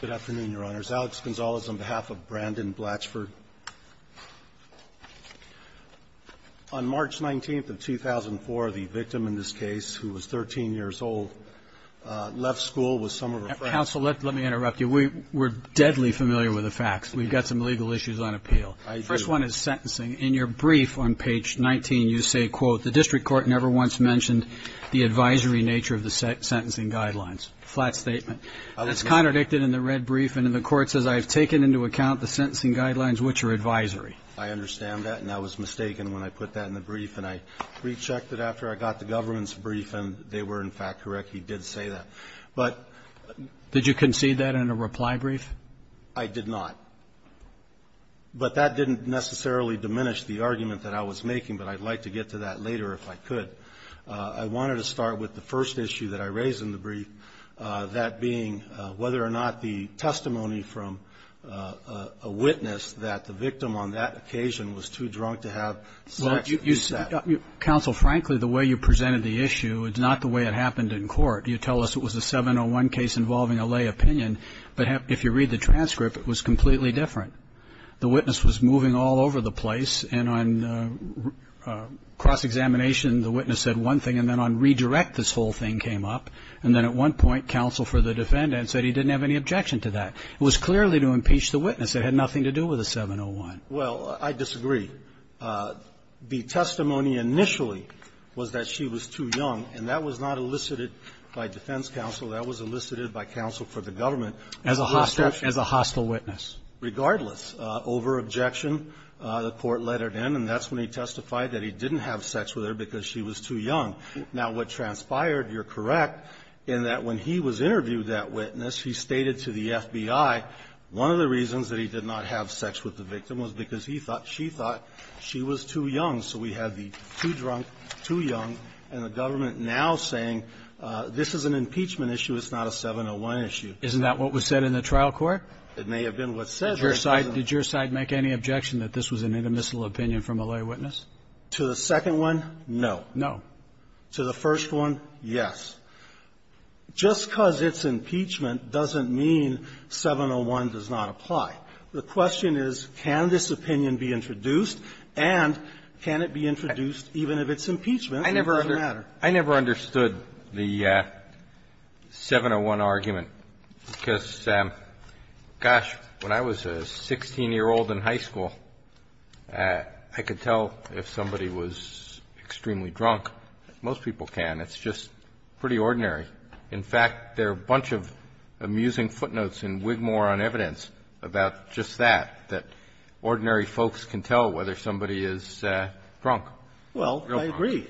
Good afternoon, Your Honors. Alex Gonzalez on behalf of Brandyn Blatchford. On March 19th of 2004, the victim in this case, who was 13 years old, left school with some of her friends. Counsel, let me interrupt you. We're deadly familiar with the facts. We've got some legal issues on appeal. I agree. First one is sentencing. In your brief on page 19, you say, quote, The district court never once mentioned the advisory nature of the sentencing guidelines. Flat statement. That's contradicted in the red brief, and in the court, it says, I have taken into account the sentencing guidelines, which are advisory. I understand that, and I was mistaken when I put that in the brief, and I rechecked it after I got the government's brief, and they were, in fact, correct. He did say that. But — Did you concede that in a reply brief? I did not. But that didn't necessarily diminish the argument that I was making, but I'd like to get to that later if I could. I wanted to start with the first issue that I raised in the brief, that being whether or not the testimony from a witness that the victim on that occasion was too drunk to have sex was set. Counsel, frankly, the way you presented the issue, it's not the way it happened in court. You tell us it was a 701 case involving a lay opinion, but if you read the transcript, it was completely different. The witness was moving all over the place, and on cross-examination, the witness said one thing, and then on redirect, this whole thing came up. And then at one point, counsel for the defendant said he didn't have any objection to that. It was clearly to impeach the witness. It had nothing to do with the 701. Well, I disagree. The testimony initially was that she was too young, and that was not elicited by defense counsel. That was elicited by counsel for the government. As a hostile witness. Regardless. Over objection, the Court let it in, and that's when he testified that he didn't have sex with her because she was too young. Now, what transpired, you're correct, in that when he was interviewed, that witness, he stated to the FBI one of the reasons that he did not have sex with the victim was because he thought she thought she was too young. So we have the too drunk, too young, and the government now saying this is an impeachment issue, it's not a 701 issue. Isn't that what was said in the trial court? It may have been what was said there. Did your side make any objection that this was an intermissile opinion from a lay witness? To the second one, no. No. To the first one, yes. Just because it's impeachment doesn't mean 701 does not apply. The question is, can this opinion be introduced, and can it be introduced even if it's impeachment, it doesn't matter. I never understood the 701 argument because, gosh, when I was a 16-year-old in high school, I could tell if somebody was extremely drunk. Most people can. It's just pretty ordinary. In fact, there are a bunch of amusing footnotes in Wigmore on evidence about just that, that ordinary folks can tell whether somebody is drunk, real drunk. Well, I agree.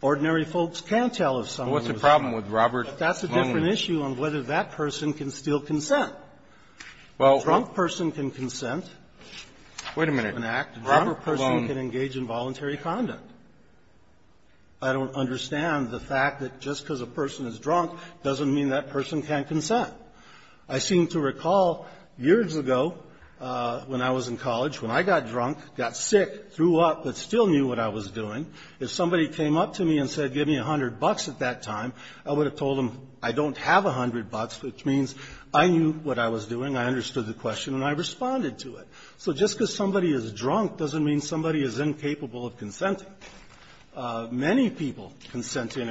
Ordinary folks can tell if somebody was drunk. Well, what's the problem with Robert Long? But that's a different issue on whether that person can still consent. A drunk person can consent. Wait a minute. Robert Long. A drunk person can engage in voluntary conduct. I don't understand the fact that just because a person is drunk doesn't mean that person can consent. I seem to recall years ago when I was in college, when I got drunk, got sick, threw up, but still knew what I was doing, if somebody came up to me and said, give me 100 bucks at that time, I would have told them, I don't have 100 bucks, which means I knew what I was doing, I understood the question, and I responded to it. So just because somebody is drunk doesn't mean somebody is incapable of consenting. Many people consent during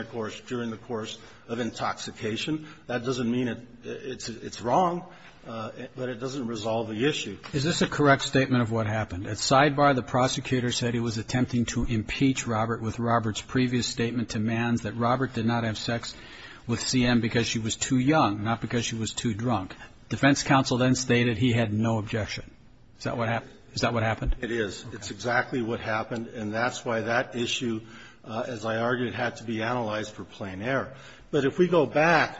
the course of intoxication. That doesn't mean it's wrong, but it doesn't resolve the issue. Is this a correct statement of what happened? At sidebar, the prosecutor said he was attempting to impeach Robert with Robert's previous statement to Manns that Robert did not have sex with CM because she was too young, not because she was too drunk. Defense counsel then stated he had no objection. Is that what happened? Is that what happened? It is. It's exactly what happened. And that's why that issue, as I argued, had to be analyzed for plain error. But if we go back,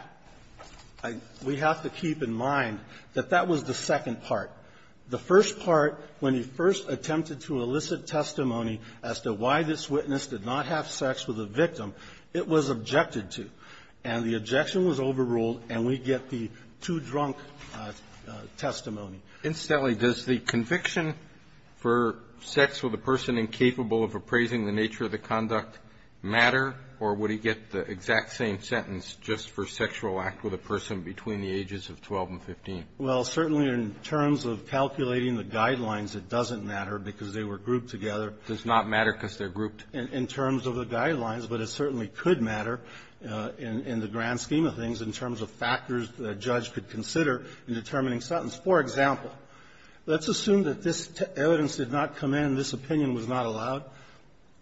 we have to keep in mind that that was the second part. The first part, when he first attempted to elicit testimony as to why this witness did not have sex with the victim, it was objected to. And the objection was overruled, and we get the too drunk testimony. Incidentally, does the conviction for sex with a person incapable of appraising the nature of the conduct matter, or would he get the exact same sentence just for sexual act with a person between the ages of 12 and 15? Well, certainly in terms of calculating the guidelines, it doesn't matter because they were grouped together. Does not matter because they're grouped? In terms of the guidelines, but it certainly could matter in the grand scheme of things in terms of factors that a judge could consider in determining sentence. For example, let's assume that this evidence did not come in, this opinion was not allowed,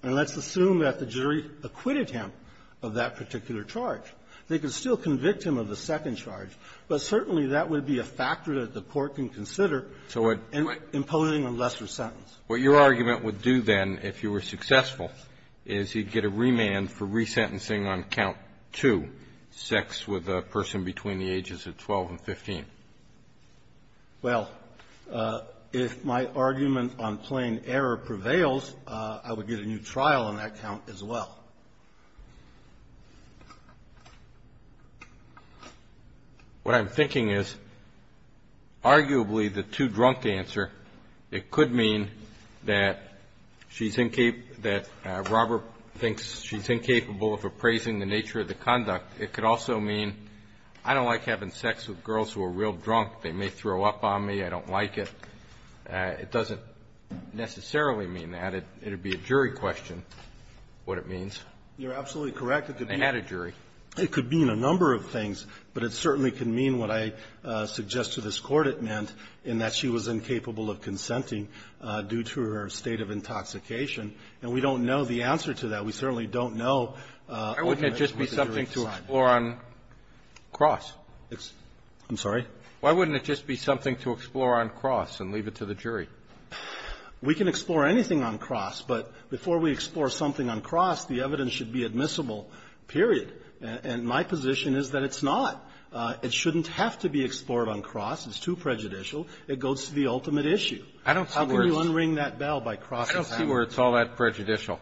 and let's assume that the jury acquitted him of that particular charge. They could still convict him of the second charge, but certainly that would be a factor that the Court can consider imposing a lesser sentence. So what your argument would do then, if you were successful, is he'd get a remand for resentencing on count two, sex with a person between the ages of 12 and 15. Well, if my argument on plain error prevails, I would get a new trial on that count as well. What I'm thinking is, arguably the too drunk answer, it could mean that she's incapable, that Robert thinks she's incapable of appraising the nature of the conduct. It could also mean, I don't like having sex with girls who are real drunk. They may throw up on me. I don't like it. It doesn't necessarily mean that. It would be a jury question what it means. You're absolutely correct. It could mean a number of things, but it certainly can mean what I suggest to this Court it meant, in that she was incapable of consenting due to her state of intoxication. And we don't know the answer to that. We certainly don't know what the jury decides. I'm sorry? Why wouldn't it just be something to explore on cross and leave it to the jury? We can explore anything on cross, but before we explore something on cross, the evidence should be admissible, period. And my position is that it's not. It shouldn't have to be explored on cross. It's too prejudicial. It goes to the ultimate issue. I don't see where it's unring that bell by crossing hands. I don't see where it's all that prejudicial.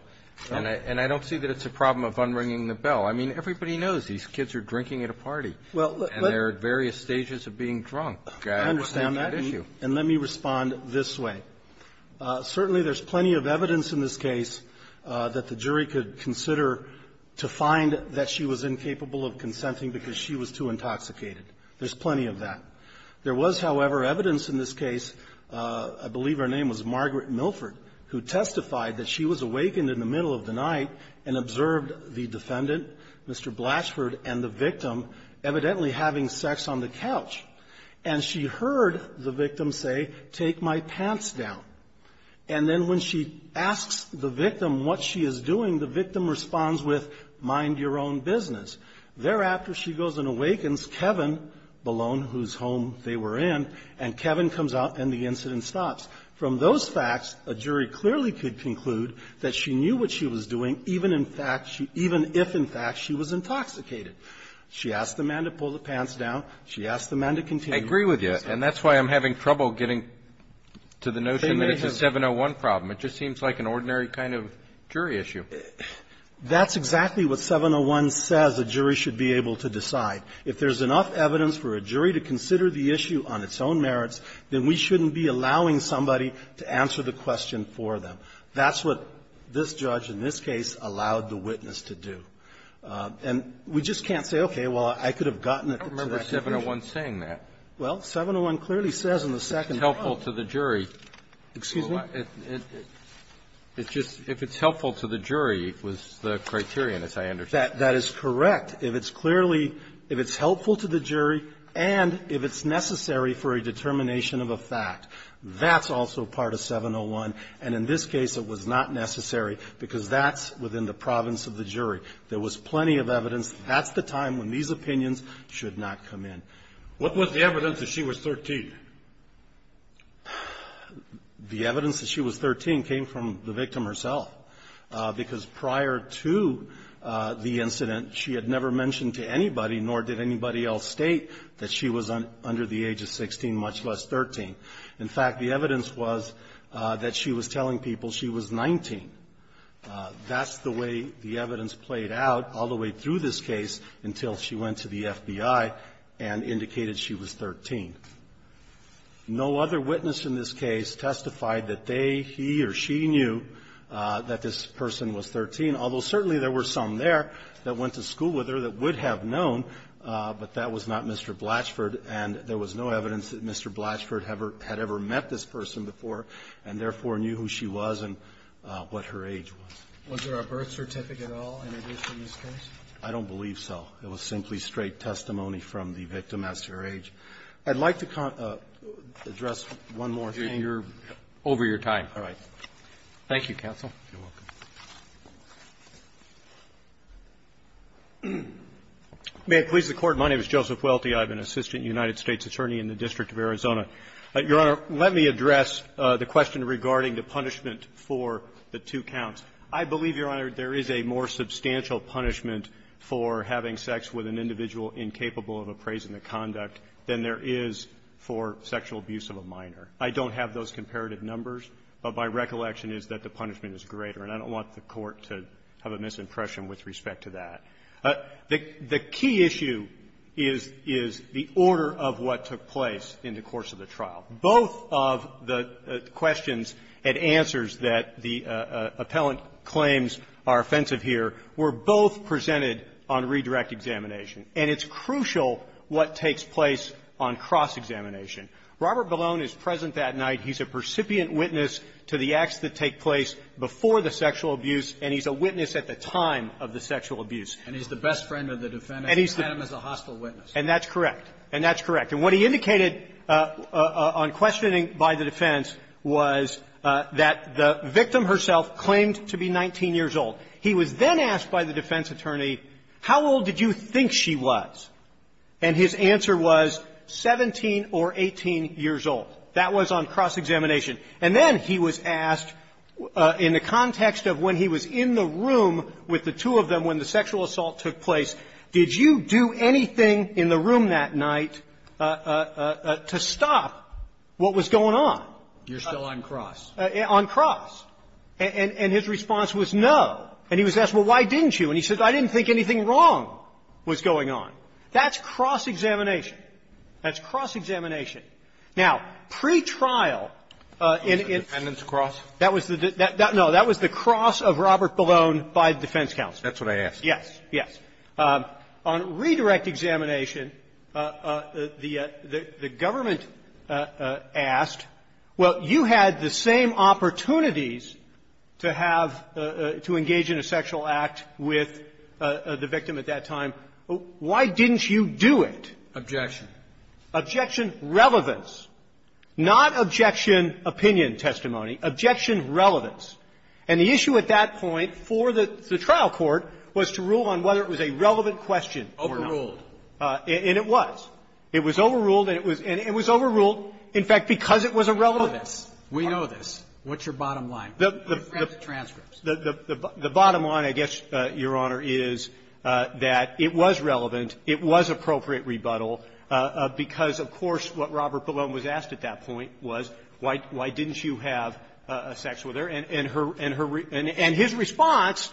And I don't see that it's a problem of unringing the bell. I mean, everybody knows these kids are drinking at a party. Well, but they're at various stages of being drunk. I understand that. And let me respond this way. Certainly, there's plenty of evidence in this case that the jury could consider to find that she was incapable of consenting because she was too intoxicated. There's plenty of that. There was, however, evidence in this case, I believe her name was Margaret Milford, who testified that she was awakened in the middle of the night and observed the defendant, Mr. Blatchford, and the victim evidently having sex on the couch. And she heard the victim say, take my pants down. And then when she asks the victim what she is doing, the victim responds with, mind your own business. Thereafter, she goes and awakens Kevin Ballone, whose home they were in, and Kevin comes out and the incident stops. From those facts, a jury clearly could conclude that she knew what she was doing, even in fact she – even if, in fact, she was intoxicated. She asked the man to pull the pants down. She asked the man to continue. I agree with you. And that's why I'm having trouble getting to the notion that it's a 701 problem. It just seems like an ordinary kind of jury issue. That's exactly what 701 says a jury should be able to decide. If there's enough evidence for a jury to consider the issue on its own merits, then we shouldn't be allowing somebody to answer the question for them. That's what this judge in this case allowed the witness to do. And we just can't say, okay, well, I could have gotten it to that situation. Kennedy, I don't remember 701 saying that. Well, 701 clearly says in the second part – If it's helpful to the jury. Excuse me? It's just – if it's helpful to the jury was the criterion, as I understand it. That is correct. If it's clearly – if it's helpful to the jury and if it's necessary for a determination of a fact, that's also part of 701. And in this case, it was not necessary because that's within the province of the jury. There was plenty of evidence. That's the time when these opinions should not come in. What was the evidence that she was 13? The evidence that she was 13 came from the victim herself because prior to the incident, she had never mentioned to anybody, nor did anybody else state that she was under the age of 16, much less 13. In fact, the evidence was that she was telling people she was 19. That's the way the evidence played out all the way through this case until she went to the FBI and indicated she was 13. No other witness in this case testified that they, he or she knew that this person was 13, although certainly there were some there that went to school with her that would have known, but that was not Mr. Blatchford, and there was no evidence that Mr. Blatchford had ever met this person before and therefore knew who she was and what her age was. Was there a birth certificate at all in addition to this case? I don't believe so. It was simply straight testimony from the victim as to her age. I'd like to address one more thing. Over your time. All right. Thank you, counsel. You're welcome. May it please the Court. My name is Joseph Welty. I'm an assistant United States attorney in the District of Arizona. Your Honor, let me address the question regarding the punishment for the two counts. I believe, Your Honor, there is a more substantial punishment for having sex with an individual incapable of appraising the conduct than there is for sexual abuse of a minor. I don't have those comparative numbers, but my recollection is that the punishment is greater. And I don't want the Court to have a misimpression with respect to that. The key issue is the order of what took place in the course of the trial. Both of the questions and answers that the appellant claims are offensive here were both presented on redirect examination. And it's crucial what takes place on cross-examination. Robert Ballone is present that night. He's a percipient witness to the acts that take place before the sexual abuse. And he's a witness at the time of the sexual abuse. And he's the best friend of the defendant at the time as a hostile witness. And that's correct. And that's correct. And what he indicated on questioning by the defense was that the victim herself claimed to be 19 years old. He was then asked by the defense attorney, how old did you think she was? And his answer was 17 or 18 years old. That was on cross-examination. And then he was asked in the context of when he was in the room with the two of them when the sexual assault took place, did you do anything in the room that night to stop what was going on? You're still on cross. On cross. And his response was no. And he was asked, well, why didn't you? And he said, I didn't think anything wrong was going on. That's cross-examination. That's cross-examination. Now, pretrial in the end of the cross, that was the no, that was the cross of Robert Ballone by the defense counsel. That's what I asked. Yes. Yes. On redirect examination, the government asked, well, you had the same opportunities to have to engage in a sexual act with the victim at that time. Why didn't you do it? Objection. Objection relevance, not objection opinion testimony, objection relevance. And the issue at that point for the trial court was to rule on whether it was a relevant question or not. Overruled. And it was. It was overruled, and it was overruled, in fact, because it was irrelevant. We know this. What's your bottom line? The transcripts. The bottom line, I guess, Your Honor, is that it was relevant, it was appropriate rebuttal, because, of course, what Robert Ballone was asked at that point was, why didn't you have sex with her? And his response,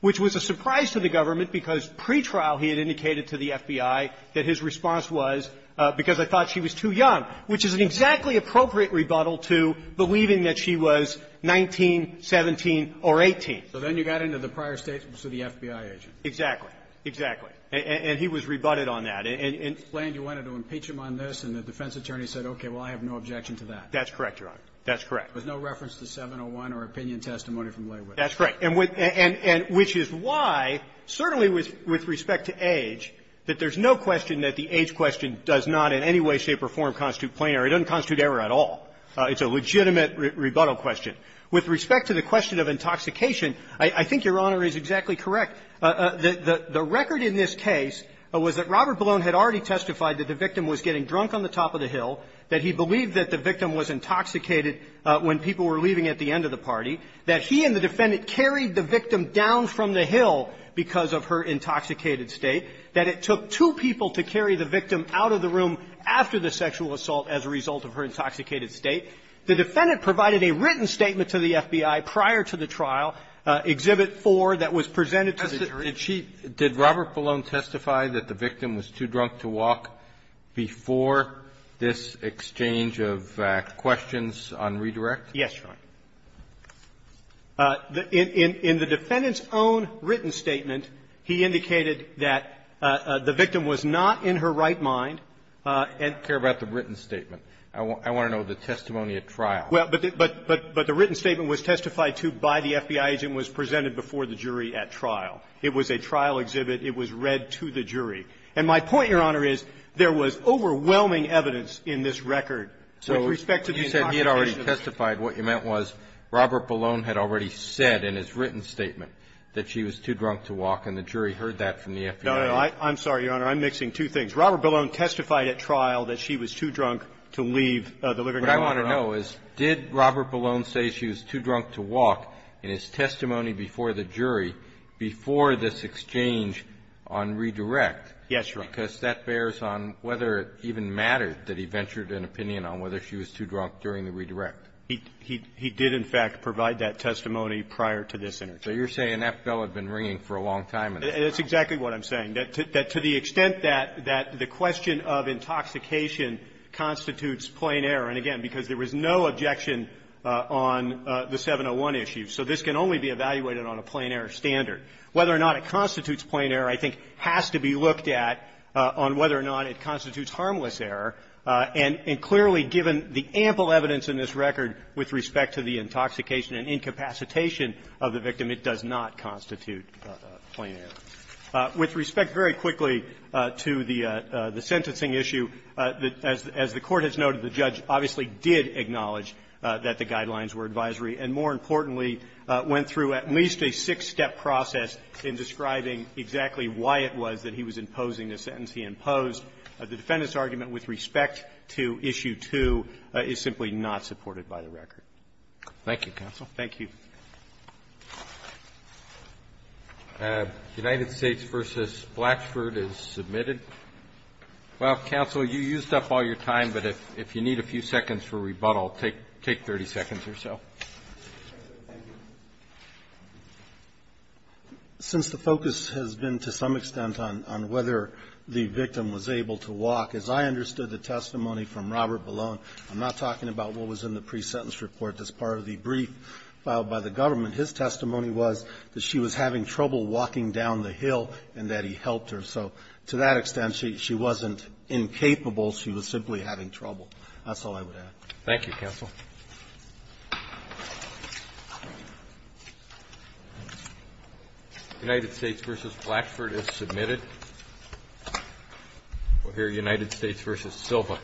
which was a surprise to the government, because pretrial he had indicated to the FBI that his response was, because I thought she was too young, which is an exactly appropriate rebuttal to believing that she was 19, 17, or 18. So then you got into the prior statements of the FBI agent. Exactly. And he was rebutted on that. And the defense attorney said, okay, well, I have no objection to that. That's correct, Your Honor. That's correct. There's no reference to 701 or opinion testimony from Blywood. That's correct. And which is why, certainly with respect to age, that there's no question that the age question does not in any way, shape, or form constitute plenary. It doesn't constitute error at all. It's a legitimate rebuttal question. With respect to the question of intoxication, I think Your Honor is exactly correct. The record in this case was that Robert Ballone had already testified that the victim was getting drunk on the top of the hill, that he believed that the victim was intoxicated when people were leaving at the end of the party, that he and the defendant carried the victim down from the hill because of her intoxicated state, that it took two people to carry the victim out of the room after the sexual assault as a result of her intoxicated state. The defendant provided a written statement to the FBI prior to the trial, Exhibit 4, that was presented to the jury. Did she – did Robert Ballone testify that the victim was too drunk to walk before this exchange of questions on redirect? Yes, Your Honor. In the defendant's own written statement, he indicated that the victim was not in her right mind and – I don't care about the written statement. I want to know the testimony at trial. Well, but the written statement was testified to by the FBI agent and was presented before the jury at trial. It was a trial exhibit. It was read to the jury. And my point, Your Honor, is there was overwhelming evidence in this record with respect to the intoxication. So you said he had already testified. What you meant was Robert Ballone had already said in his written statement that she was too drunk to walk, and the jury heard that from the FBI agent. No, no, I'm sorry, Your Honor. I'm mixing two things. Robert Ballone testified at trial that she was too drunk to leave the living room on her own. What I want to know is, did Robert Ballone say she was too drunk to walk in his testimony before the jury before this exchange on redirect? Yes, Your Honor. Because that bears on whether it even mattered that he ventured an opinion on whether she was too drunk during the redirect. He did, in fact, provide that testimony prior to this interview. So you're saying that bell had been ringing for a long time at that time. That's exactly what I'm saying, that to the extent that the question of intoxication constitutes plain error, and again, because there was no objection on the 701 issue. So this can only be evaluated on a plain-error standard. Whether or not it constitutes plain error, I think, has to be looked at on whether or not it constitutes harmless error. And clearly, given the ample evidence in this record with respect to the intoxication and incapacitation of the victim, it does not constitute plain error. With respect, very quickly, to the sentencing issue, as the Court has noted, the judge obviously did acknowledge that the guidelines were advisory and, more importantly, went through at least a six-step process in describing exactly why it was that he was imposing the sentence he imposed. The defendant's argument with respect to issue 2 is simply not supported by the record. Roberts. Thank you, counsel. Thank you. United States v. Blackford is submitted. Well, counsel, you used up all your time, but if you need a few seconds for rebuttal, take 30 seconds or so. Since the focus has been to some extent on whether the victim was able to walk, as I understood the testimony from Robert Ballone, I'm not talking about what was in the government. His testimony was that she was having trouble walking down the hill and that he helped her. So to that extent, she wasn't incapable. She was simply having trouble. That's all I would add. Thank you, counsel. United States v. Blackford is submitted. We'll hear United States v. Silva.